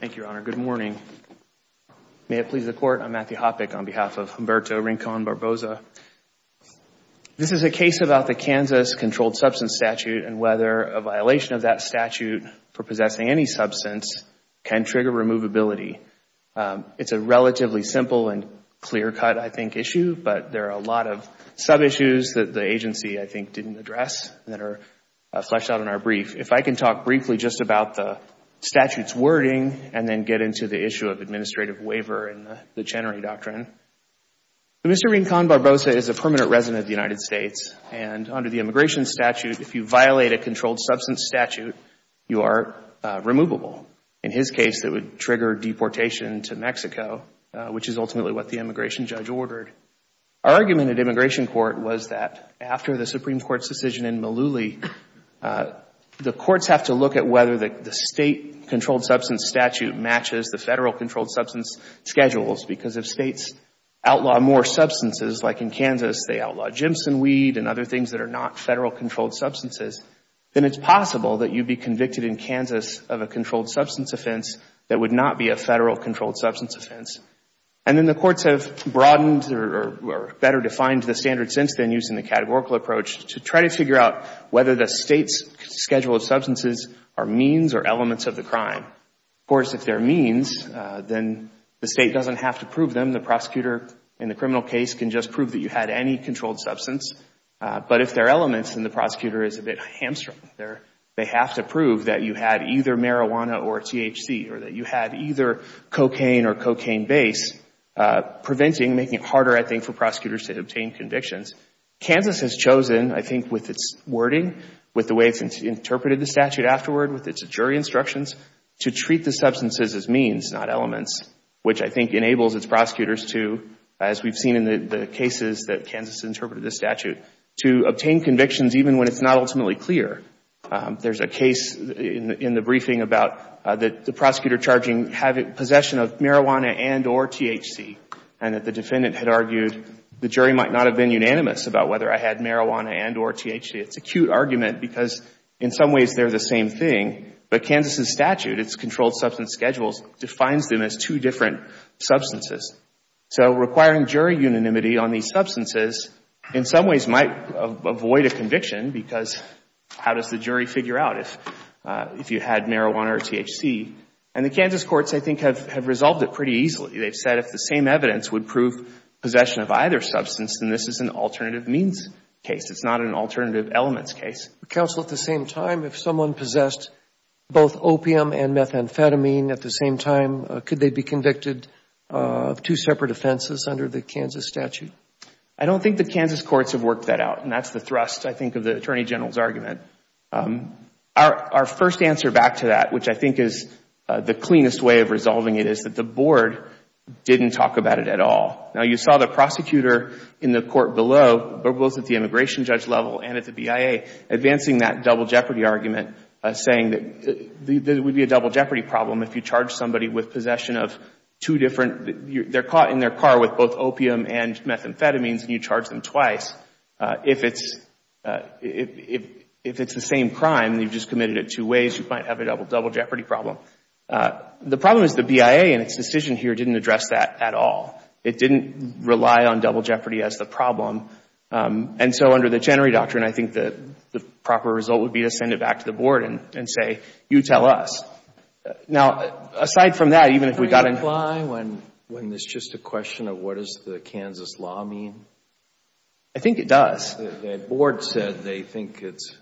Thank you, Your Honor. Good morning. May it please the Court, I'm Matthew Hoppeck on behalf of Humberto Rincon Barbosa. This is a case about the Kansas Controlled Substance Statute and whether a violation of that statute for possessing any substance can trigger removability. It's a relatively simple and clear-cut, I think, issue, but there are a lot of sub-issues that the agency, I think, didn't address that are fleshed out in our brief. If I can talk briefly just about the statute's wording and then get into the issue of administrative waiver and the Chenery Doctrine. Mr. Rincon Barbosa is a permanent resident of the United States and under the immigration statute, if you violate a controlled substance statute, you are removable. In his case, it would trigger deportation to Mexico, which is ultimately what the immigration judge ordered. Our argument at immigration court was that after the Supreme Court's decision in Malooly, the courts have to look at whether the State Controlled Substance Statute matches the Federal Controlled Substance Schedules because if States outlaw more substances, like in Kansas, they outlaw ginseng weed and other things that are not Federal Controlled Substances, then it's possible that you'd be convicted in Kansas of a controlled substance offense that would not be a Federal Controlled Substance offense. And then the courts have broadened or better defined the standard since then using the categorical approach to try to figure out whether the State's schedule of substances are means or elements of the crime. Of course, if they are means, then the State doesn't have to prove them. The prosecutor in the criminal case can just prove that you had any controlled substance, but if they are elements, then the prosecutor is a bit hamstrung. They have to prove that you had either marijuana or THC or that you had either cocaine or cocaine base, preventing, making it harder, I think, for prosecutors to obtain convictions. Kansas has chosen, I think, with its wording, with the way it's interpreted the statute afterward, with its jury instructions, to treat the substances as means, not elements, which I think enables its prosecutors to, as we've seen in the cases that Kansas interpreted this statute, to obtain convictions even when it's not ultimately clear. There's a case in the briefing about the prosecutor charging possession of marijuana and or THC and that the defendant had argued the jury might not have been unanimous about whether I had marijuana and or THC. It's a cute argument because in some ways they're the same thing, but Kansas' statute, its controlled substance schedules, defines them as two different substances. So requiring jury unanimity on these substances in some ways might avoid a conviction because how does the jury figure out if you had marijuana or THC? And the Kansas courts, I think, have resolved it pretty easily. They've said if the same evidence would prove possession of either substance, then this is an alternative means case. It's not an alternative elements case. Counsel, at the same time, if someone possessed both opium and methamphetamine at the same time, could they be convicted of two separate offenses under the Kansas statute? I don't think the Kansas courts have worked that out, and that's the thrust, I think, of the Attorney General's argument. Our first answer back to that, which I think is the cleanest way of resolving it, is that the board didn't talk about it at all. Now, you saw the prosecutor in the court below, both at the immigration judge level and at the BIA, advancing that double jeopardy argument saying that there would be a double jeopardy problem if you charged somebody with possession of two different, they're caught in their car with both opium and methamphetamines and you charge them twice. If it's the same crime, you've just committed it two ways, you might have a double jeopardy problem. The problem is the BIA in its decision here didn't address that at all. It didn't rely on double jeopardy as the problem. And so under the Chenery Doctrine, I think the proper result would be to send it back to the board and say, you tell us. Now, aside from that, even if we've got an When there's just a question of what does the Kansas law mean? I think it does. The board said they think it's,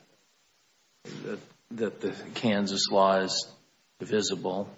that the Kansas law is divisible.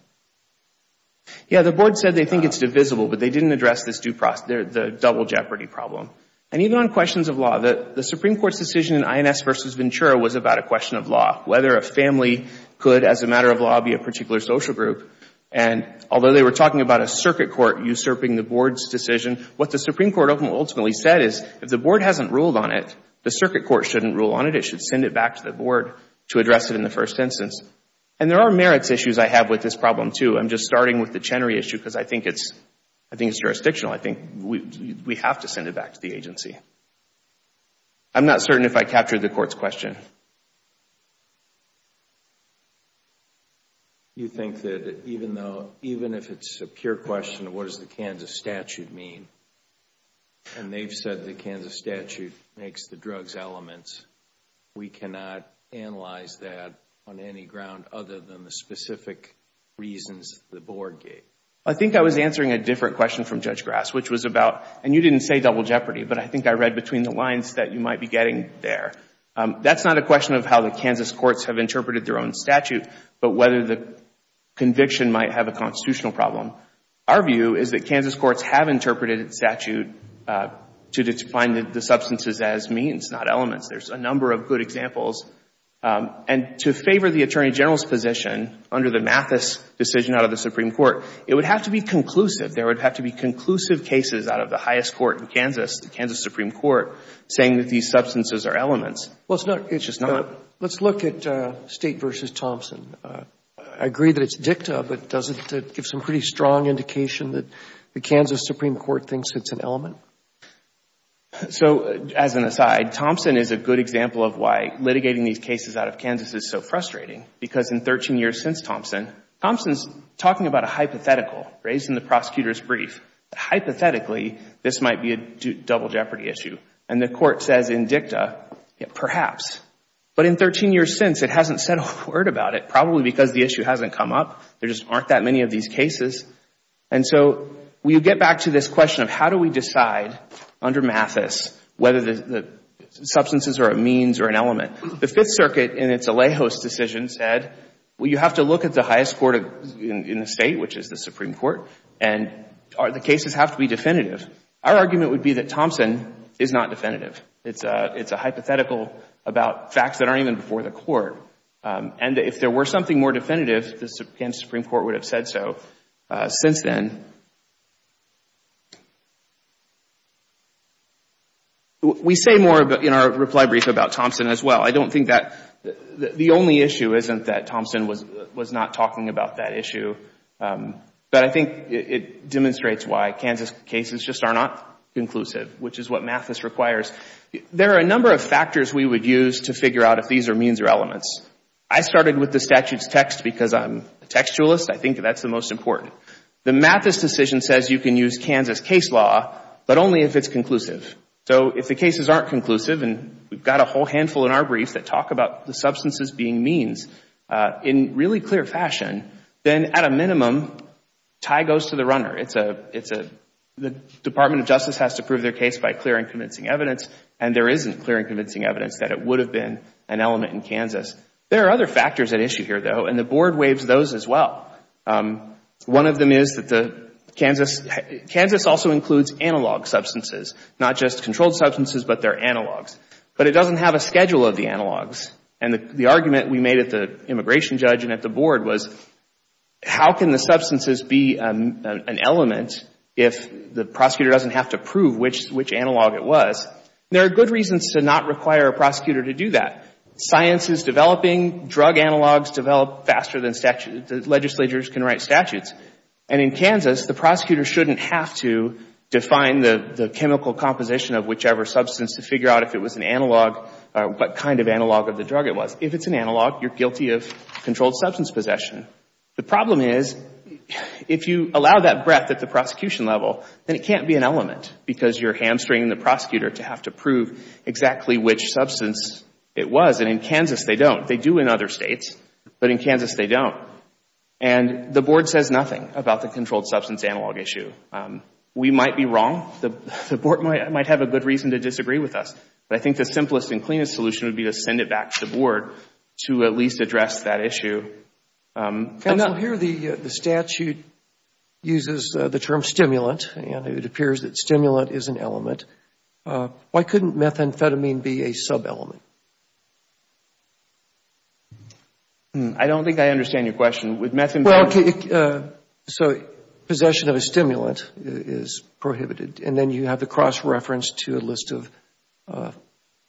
Yeah, the board said they think it's divisible, but they didn't address this double jeopardy problem. And even on questions of law, the Supreme Court's decision in INS v. Ventura was about a question of law, whether a family could, as a matter of law, be a particular social group. And although they were talking about a circuit court usurping the board's decision, what the Supreme Court ultimately said is if the board hasn't ruled on it, the circuit court shouldn't rule on it. It should send it back to the board to address it in the first instance. And there are merits issues I have with this problem, too. I'm just starting with the Chenery issue because I think it's jurisdictional. I think we have to send it back to the agency. I'm not certain if I captured the court's question. You think that even though, even if it's a pure question of what does the Kansas statute mean, and they've said the Kansas statute makes the drugs elements, we cannot analyze that on any ground other than the specific reasons the board gave? I think I was answering a different question from Judge Grass, which was about, and you didn't say double jeopardy, but I think I read between the lines that you might be getting there. That's not a question of how the Kansas courts have interpreted their own statute, but whether the conviction might have a constitutional problem. Our view is that Kansas courts have interpreted the statute to define the substances as means, not elements. There's a number of good examples. And to favor the Attorney General's position, under the Mathis decision out of the Supreme Court, it would have to be conclusive. There would have to be conclusive cases out of the highest court in Kansas, the Kansas Supreme Court, saying that these substances are elements. Well, it's not. Let's look at State v. Thompson. I agree that it's dicta, but doesn't it give some pretty strong indication that the Kansas Supreme Court thinks it's an element? So, as an aside, Thompson is a good example of why litigating these cases out of Kansas is so frustrating. Because in 13 years since Thompson, Thompson's talking about a hypothetical raised in the prosecutor's brief. Hypothetically, this might be a double jeopardy issue. And the court says in dicta, perhaps. But in 13 years since, it hasn't said a word about it, probably because the issue hasn't come up. There just aren't that many of these cases. And so, we get back to this question of how do we decide under Mathis whether the substances are a means or an element. The Fifth Circuit in its Alejos decision said, well, you have to look at the highest court in the State, which is the Supreme Court, and the cases have to be definitive. Our argument would be that Thompson is not definitive. It's a hypothetical about facts that aren't even before the court. And if there were something more definitive, the Kansas Supreme Court would have said so since then. We say more in our reply brief about Thompson as well. I don't think that the only issue isn't that Thompson was not talking about that issue. But I think it demonstrates why Kansas cases just are not conclusive, which is what Mathis requires. There are a number of factors we would use to figure out if these are means or elements. I started with the statute's text because I'm a textualist. I think that's the most important. The Mathis decision says you can use Kansas case law, but only if it's conclusive. So, if the cases aren't conclusive, and we've got a whole handful in our brief that talk about substances being means in really clear fashion, then at a minimum, tie goes to the runner. The Department of Justice has to prove their case by clear and convincing evidence, and there isn't clear and convincing evidence that it would have been an element in Kansas. There are other factors at issue here, though, and the Board waives those as well. Kansas also includes analog substances, not just controlled substances, but they're analogs. But it doesn't have a schedule of the analogs. And the argument we made at the immigration judge and at the Board was, how can the substances be an element if the prosecutor doesn't have to prove which analog it was? There are good reasons to not require a prosecutor to do that. Science is developing. Drug analogs develop faster than legislatures can write statutes. And in Kansas, the prosecutor shouldn't have to define the chemical composition of whichever substance to figure out if it was an analog, what kind of analog of the drug it was. If it's an analog, you're guilty of controlled substance possession. The problem is, if you allow that breadth at the prosecution level, then it can't be an element because you're hamstringing the prosecutor to have to prove exactly which substance it was. And in Kansas, they don't. They do in other states, but in Kansas, they don't. And the Board says nothing about the I think the simplest and cleanest solution would be to send it back to the Board to at least address that issue. Counsel, here the statute uses the term stimulant, and it appears that stimulant is an element. Why couldn't methamphetamine be a sub-element? I don't think I understand your question. So possession of a stimulant is prohibited, and then you have the cross-reference to a list of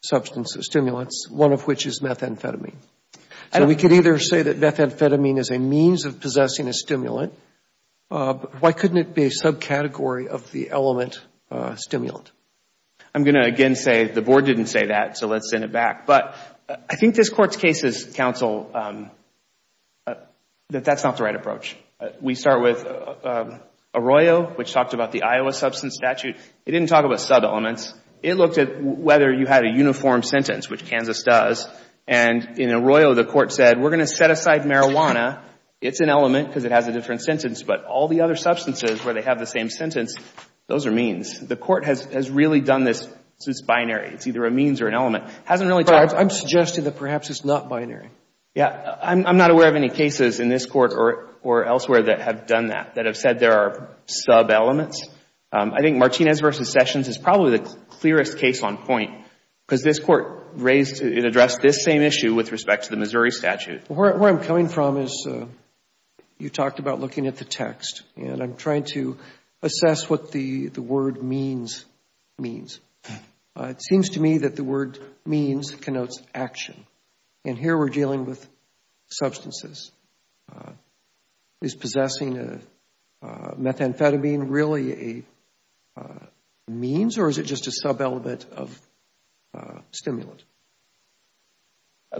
substance stimulants, one of which is methamphetamine. And we could either say that methamphetamine is a means of possessing a stimulant. Why couldn't it be a subcategory of the element stimulant? I'm going to again say the Board didn't say that, so let's send it back. But I think this Court's case is, Counsel, that that's not the right approach. We start with Arroyo, which talked about the Iowa Substance Statute. It didn't talk about sub-elements. It looked at whether you had a uniform sentence, which Kansas does. And in Arroyo, the Court said, we're going to set aside marijuana. It's an element because it has a different sentence, but all the other substances where they have the same sentence, those are means. The Court has really done this, it's binary. It's either a means or an element. It hasn't really talked about I'm suggesting that perhaps it's not binary. Yeah. I'm not aware of any cases in this Court or elsewhere that have done that, that have said there are sub-elements. I think Martinez v. Sessions is probably the clearest case on point because this Court addressed this same issue with respect to the Missouri Statute. Where I'm coming from is, you talked about looking at the text, and I'm trying to assess what the word means, means. It seems to me that the word means connotes action. And here we're dealing with substances. Is possessing a methamphetamine really a means, or is it just a sub-element of stimulant?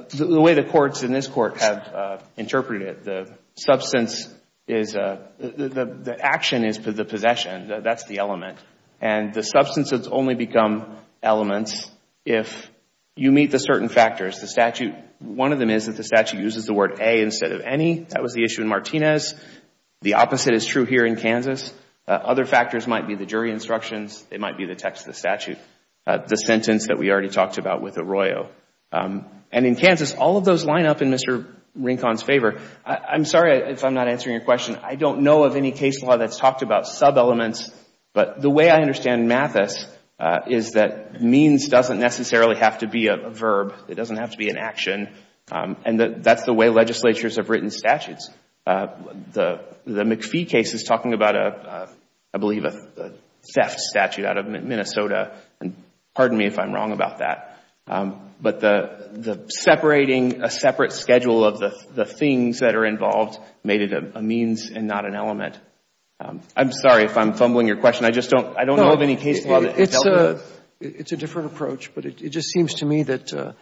The way the Courts in this Court have interpreted it, the substance is, the action is the possession. That's the element. And the substance has only become elements if you meet the certain factors. One of them is that the statute uses the word a instead of any. That was the issue in Martinez. The opposite is true here in Kansas. Other factors might be the jury instructions. It might be the text of the statute, the sentence that we already talked about with Arroyo. And in Kansas, all of those line up in Mr. Rincon's favor. I'm sorry if I'm not answering your question. I don't know of any case law that's talked about sub-elements, but the way I understand Mathis is that means doesn't necessarily have to be a verb. It doesn't have to be an action. And that's the way legislatures have written statutes. The McPhee case is talking about, I believe, a theft statute out of Minnesota. And pardon me if I'm wrong about that. But the separating a separate schedule of the things that are involved made it a means and not an element. I'm sorry if I'm fumbling your question. I just don't know of any case law that dealt with it. It's a different approach. But it just seems to me that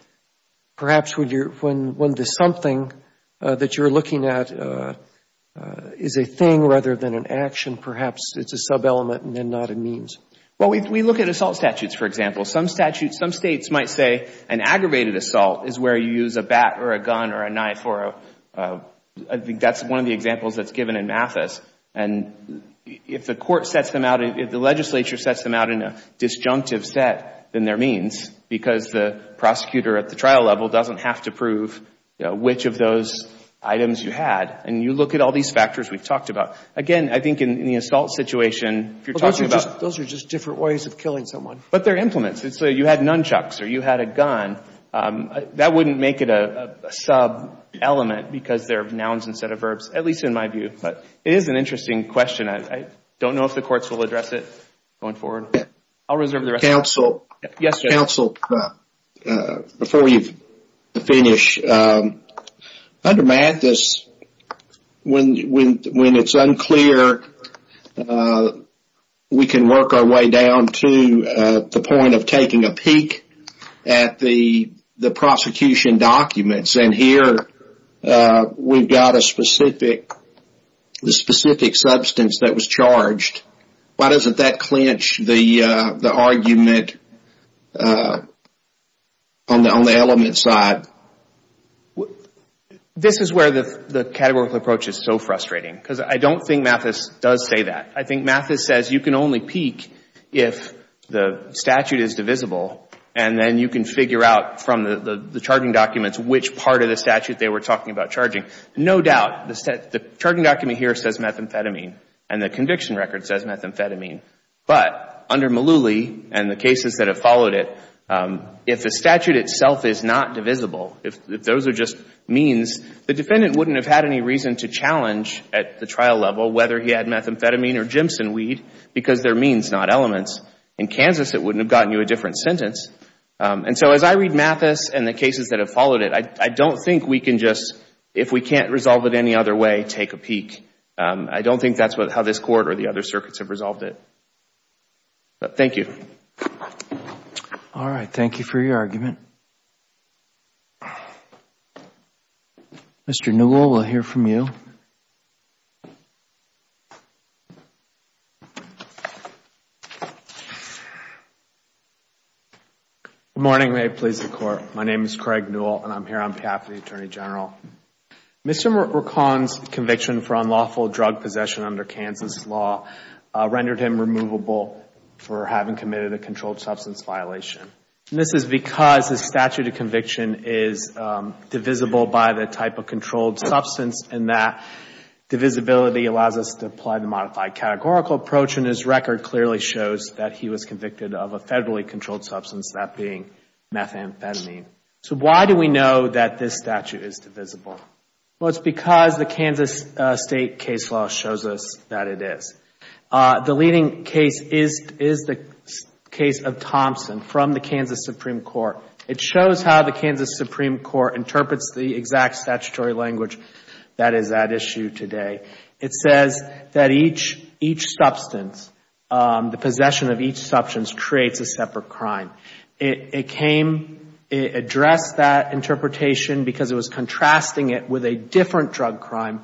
perhaps when the something that you're looking at is a thing rather than an action, perhaps it's a sub-element and then not a means. Well, we look at assault statutes, for example. Some statutes, some States might say an aggravated assault is where you use a bat or a gun or a knife or a, I think that's one of the examples that's given in Mathis. And if the court sets them out, if the legislature sets them out in a disjunctive set, then they're means because the prosecutor at the trial level doesn't have to prove which of those items you had. And you look at all these factors we've talked about. Again, I think in the assault situation, if you're talking about Those are just different ways of killing someone. But they're implements. You had nunchucks or you had a gun. That wouldn't make it a sub-element because they're nouns instead of verbs, at least in my view. But it is an interesting question. I don't know if the courts will address it going forward. Yeah. I'll reserve the rest. Counsel, before you finish, under Mathis, when it's unclear, we can work our way down to the point of taking a peek at the prosecution documents. And here we've got a specific substance that was charged. Why doesn't that clinch the argument on the element side? This is where the categorical approach is so frustrating. Because I don't think Mathis does say that. I think Mathis says you can only peek if the statute is divisible. And then you can figure out from the charging documents which part of the statute they were talking about charging. No doubt, the charging document here says methamphetamine. And the conviction record says methamphetamine. But under Mullooly and the cases that have followed it, if the statute itself is not divisible, if those are just means, the defendant wouldn't have had any reason to challenge at the trial level whether he had methamphetamine or Jimson weed because they're means, not elements. In Kansas, it wouldn't have gotten you a different sentence. And so as I read Mathis and the cases that have followed it, I don't think we can just, if we can't resolve it any other way, take a peek. I don't think that's how this Court or the other circuits have resolved it. But thank you. All right. Thank you for your argument. Mr. Newell, we'll hear from you. Good morning. May it please the Court. My name is Craig Newell, and I'm here on behalf of the Attorney General. Mr. McCollum's conviction for unlawful drug possession under Kansas law rendered him removable for having committed a controlled substance violation. And this is because the statute of conviction is divisible by the type of controlled substance and that divisibility allows us to apply the modified categorical approach. And his record clearly shows that he was a convicted offender. He was convicted of a federally controlled substance, that being methamphetamine. So why do we know that this statute is divisible? Well, it's because the Kansas State case law shows us that it is. The leading case is the case of Thompson from the Kansas Supreme Court. It shows how the Kansas Supreme Court interprets the exact statutory language that is at issue today. It says that each substance, the possession of each substance creates a separate crime. It came, it addressed that interpretation because it was contrasting it with a different drug crime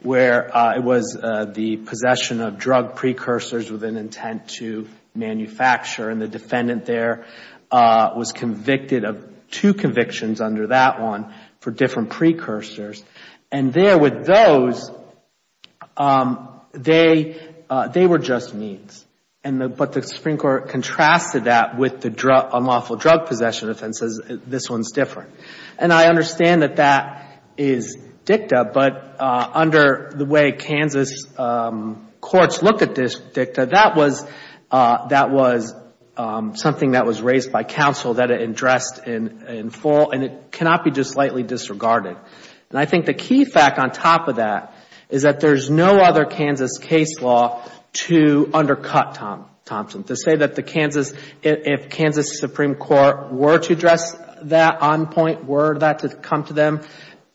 where it was the possession of drug precursors with an intent to manufacture. And the defendant there was convicted of two convictions under that one for different precursors. And there with those, they were just means. But the Supreme Court contrasted that with the unlawful drug possession offenses. This one's different. And I understand that that is dicta, but under the way Kansas courts look at this dicta, that was something that was raised by counsel, that it addressed in full, and it cannot be just slightly disregarded. And I think the key fact on top of that is that there's no other Kansas case law to undercut Thompson. To say that the Kansas, if Kansas Supreme Court were to address that on point, were that to come to them,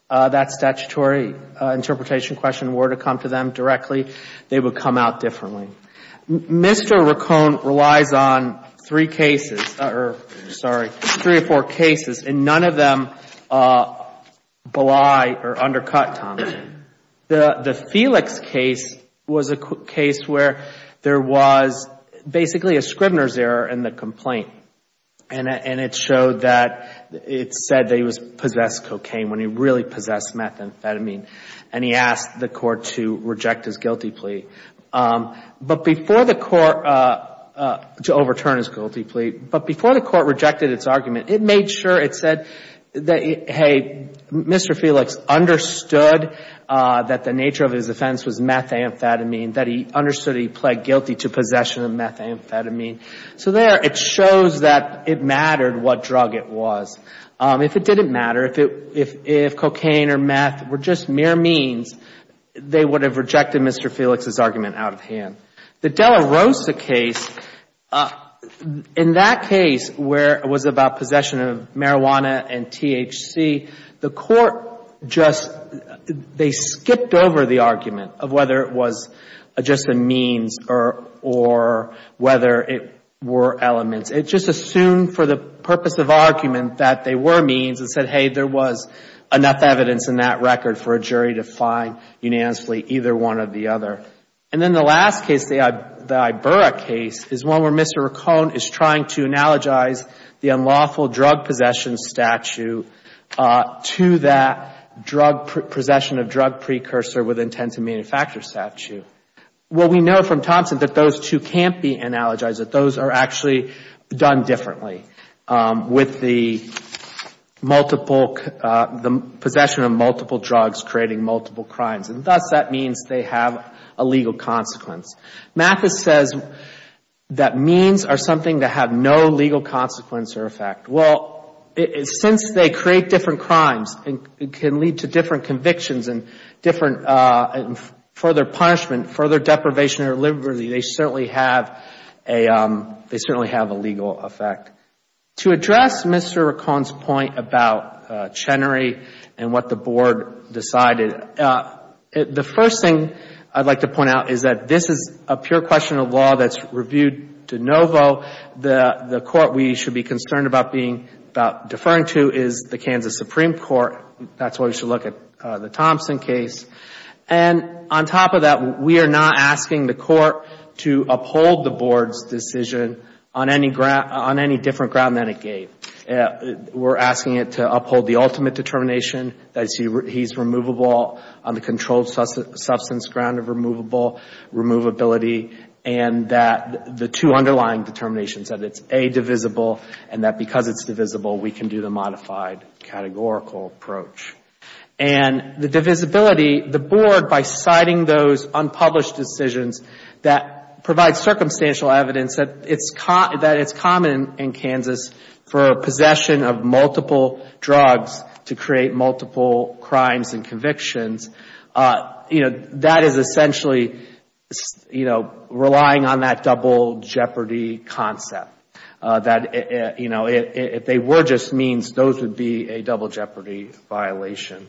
that statutory interpretation question were to come to them directly, they would come out differently. Mr. Racone relies on three cases, or sorry, three or four cases, and none of them belie or undercut Thompson. The Felix case was a case where there was basically a Scribner's error in the complaint. And it showed that it said that he possessed cocaine when he really possessed methamphetamine. And he asked the court to reject his guilty plea. But before the court, to overturn his guilty plea, but before the court rejected its argument, it made sure it said that, hey, Mr. Felix understood that the nature of his offense was methamphetamine, that he understood he pled guilty to possession of methamphetamine. So there it shows that it mattered what drug it was. If it didn't matter, if cocaine or meth were just mere means, they would have rejected Mr. Felix's argument out of hand. The Della Rosa case, in that case where it was about possession of marijuana and THC, the court just, they skipped over the argument of whether it was just a means or whether it were elements. It just assumed for the purpose of argument that they were means and said, hey, there was enough evidence in that record for a jury to find unanimously either one or the other. And then the last case, the Iberra case, is one where Mr. Raccone is trying to analogize the unlawful drug possession statute to that possession of drug precursor with intent to manufacture statute. Well, we know from Thompson that those two can't be analogized, that those are actually done differently with the possession of multiple drugs creating multiple crimes. And thus, that means they have a legal consequence. Mathis says that means are something that have no legal consequence or effect. Well, since they create different crimes, it can lead to different convictions and different further punishment, further deprivation or liberty. They certainly have a legal effect. To address Mr. Raccone's point about Chenery and what the Board decided, the first thing I'd like to point out is that this is a pure question of law that's reviewed de novo. The court we should be concerned about being, about deferring to is the Kansas Supreme Court. That's why we should look at the Thompson case. And on top of that, we are not asking the court to uphold the Board's decision on any different ground than it gave. We're asking it to uphold the ultimate determination that he's removable on the controlled substance ground of removable, removability, and that the two underlying determinations that it's A, divisible, and that because it's divisible, we can do the modified categorical approach. And the divisibility, the Board, by citing those unpublished decisions that provide circumstantial evidence that it's common in Kansas for possession of multiple drugs to create multiple crimes and convictions, you know, that is essentially, you know, relying on that double jeopardy concept. That, you know, if they were just means, those would be a double jeopardy violation.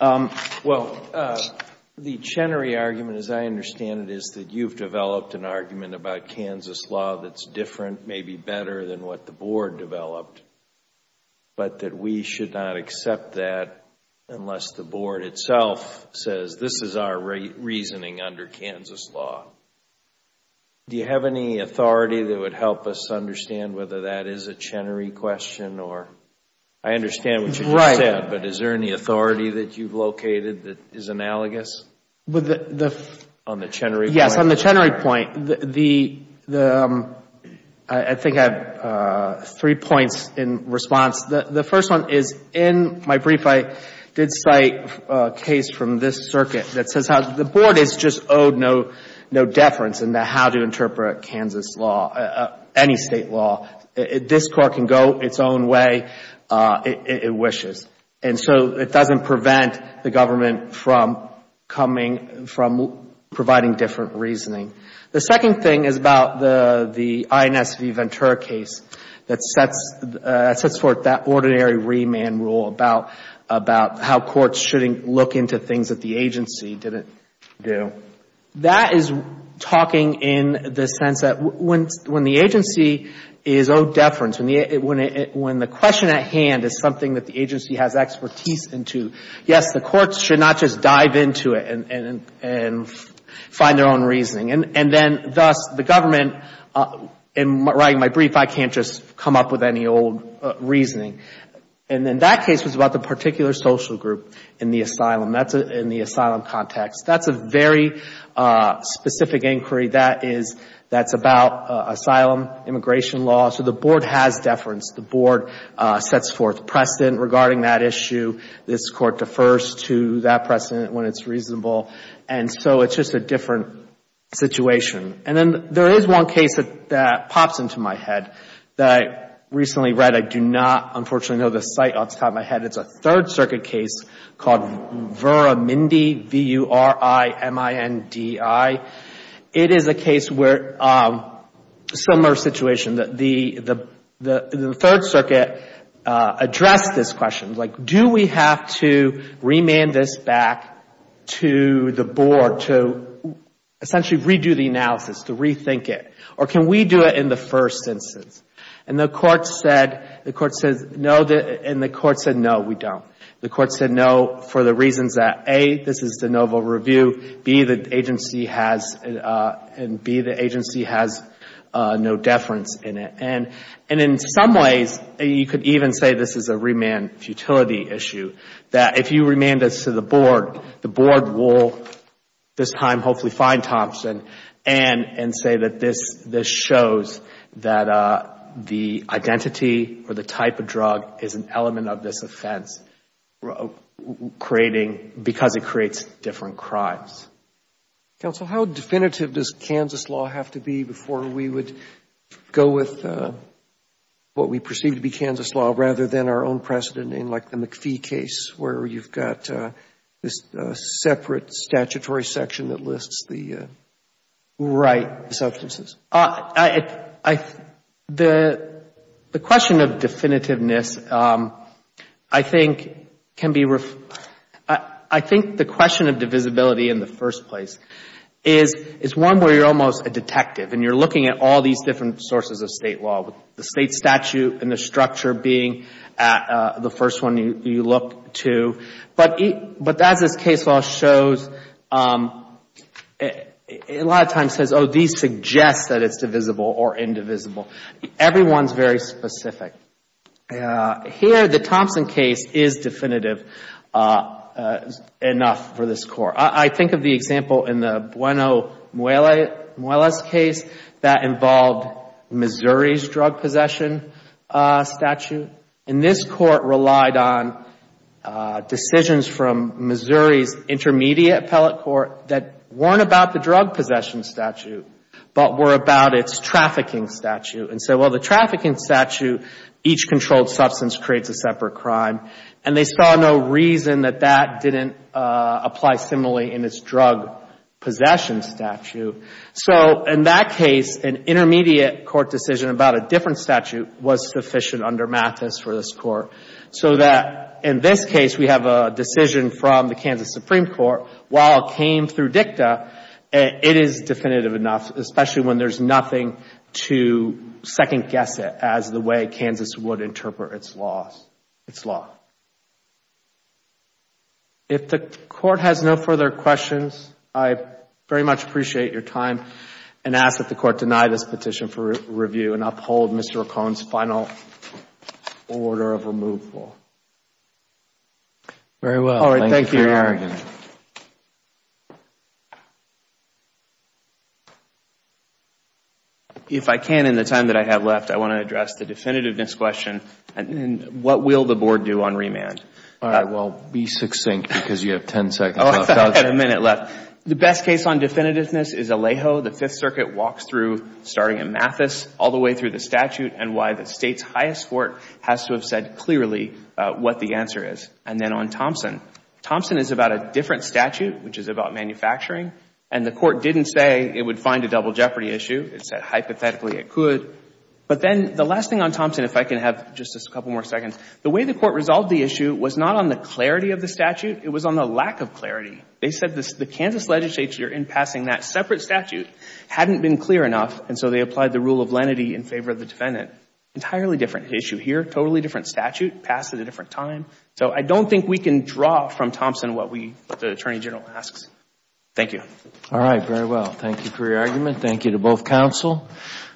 Well, the Chenery argument, as I understand it, is that you've developed an argument about Kansas law that's different, maybe better than what the Board developed. But that we should not accept that unless the Board itself says this is our reasoning under Kansas law. Do you have any authority that would help us understand whether that is a Chenery question? I understand what you just said, but is there any authority that you've located that is analogous on the Chenery point? Yes. On the Chenery point, I think I have three points in response. The first one is, in my brief, I did cite a case from this circuit that says how the deference in the how to interpret Kansas law, any state law, this court can go its own way it wishes. And so it doesn't prevent the government from coming, from providing different reasoning. The second thing is about the INS v. Ventura case that sets forth that ordinary remand rule about how courts shouldn't look into things that the agency didn't do. That is talking in the sense that when the agency is owed deference, when the question at hand is something that the agency has expertise into, yes, the courts should not just dive into it and find their own reasoning. And then, thus, the government, in writing my brief, I can't just come up with any old reasoning. And then that case was about the particular social group in the asylum, in the asylum context. That's a very specific inquiry that's about asylum, immigration law. So the Board has deference. The Board sets forth precedent regarding that issue. This Court defers to that precedent when it's reasonable. And so it's just a different situation. And then there is one case that pops into my head that I recently read. I do not, unfortunately, know the site off the top of my head. It's a Third Circuit case called Vuramindi, V-U-R-I-M-I-N-D-I. It is a case where, similar situation, the Third Circuit addressed this question, like, do we have to remand this back to the Board to essentially redo the analysis, to rethink it? Or can we do it in the first instance? And the Court said no, and the Court said, no, we don't. The Court said no for the reasons that, A, this is de novo review, and B, the agency has no deference in it. And in some ways, you could even say this is a remand futility issue, that if you remand this to the Board, the Board will this time hopefully find Thompson and say that this shows that the identity or the type of drug is an element of this offense, because it creates different crimes. Counsel, how definitive does Kansas law have to be before we would go with what we perceive to be Kansas law, rather than our own precedent in, like, the McPhee case, where you've got this separate statutory section that lists the right substances? I, the question of definitiveness, I think, can be, I think the question of divisibility in the first place is one where you're almost a detective, and you're looking at all these different sources of State law, with the State statute and the structure being the first one you look to. But as this case law shows, a lot of times it says, oh, these suggest that it's divisible or indivisible. Everyone's very specific. Here, the Thompson case is definitive enough for this Court. I think of the example in the Bueno-Muela's case that involved Missouri's drug possession statute. And this Court relied on decisions from Missouri's intermediate appellate court that weren't about the drug possession statute, but were about its trafficking statute. And so, well, the trafficking statute, each controlled substance creates a separate crime. And they saw no reason that that didn't apply similarly in its drug possession statute. So in that case, an intermediate Court decision about a different statute was sufficient under Mathis for this Court. So that in this case, we have a decision from the Kansas Supreme Court. While it came through dicta, it is definitive enough, especially when there's nothing to second guess it as the way Kansas would interpret its law. If the Court has no further questions, I very much appreciate your time and ask that the order of removal. Very well. All right. Thank you for your argument. If I can, in the time that I have left, I want to address the definitiveness question. What will the Board do on remand? All right. Well, be succinct because you have ten seconds. Oh, I had a minute left. The best case on definitiveness is Alejo. The Fifth Circuit walks through, starting in Mathis, all the way through the statute and why the State's highest court has to have said clearly what the answer is. And then on Thompson. Thompson is about a different statute, which is about manufacturing. And the Court didn't say it would find a double jeopardy issue. It said, hypothetically, it could. But then the last thing on Thompson, if I can have just a couple more seconds. The way the Court resolved the issue was not on the clarity of the statute. It was on the lack of clarity. They said the Kansas legislature, in passing that separate statute, hadn't been clear enough and so they applied the rule of lenity in favor of the defendant. Entirely different issue here. Totally different statute. Passed at a different time. So I don't think we can draw from Thompson what the Attorney General asks. Thank you. All right. Very well. Thank you for your argument. Thank you to both counsel.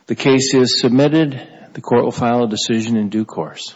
The case is submitted. The Court will file a decision in due course.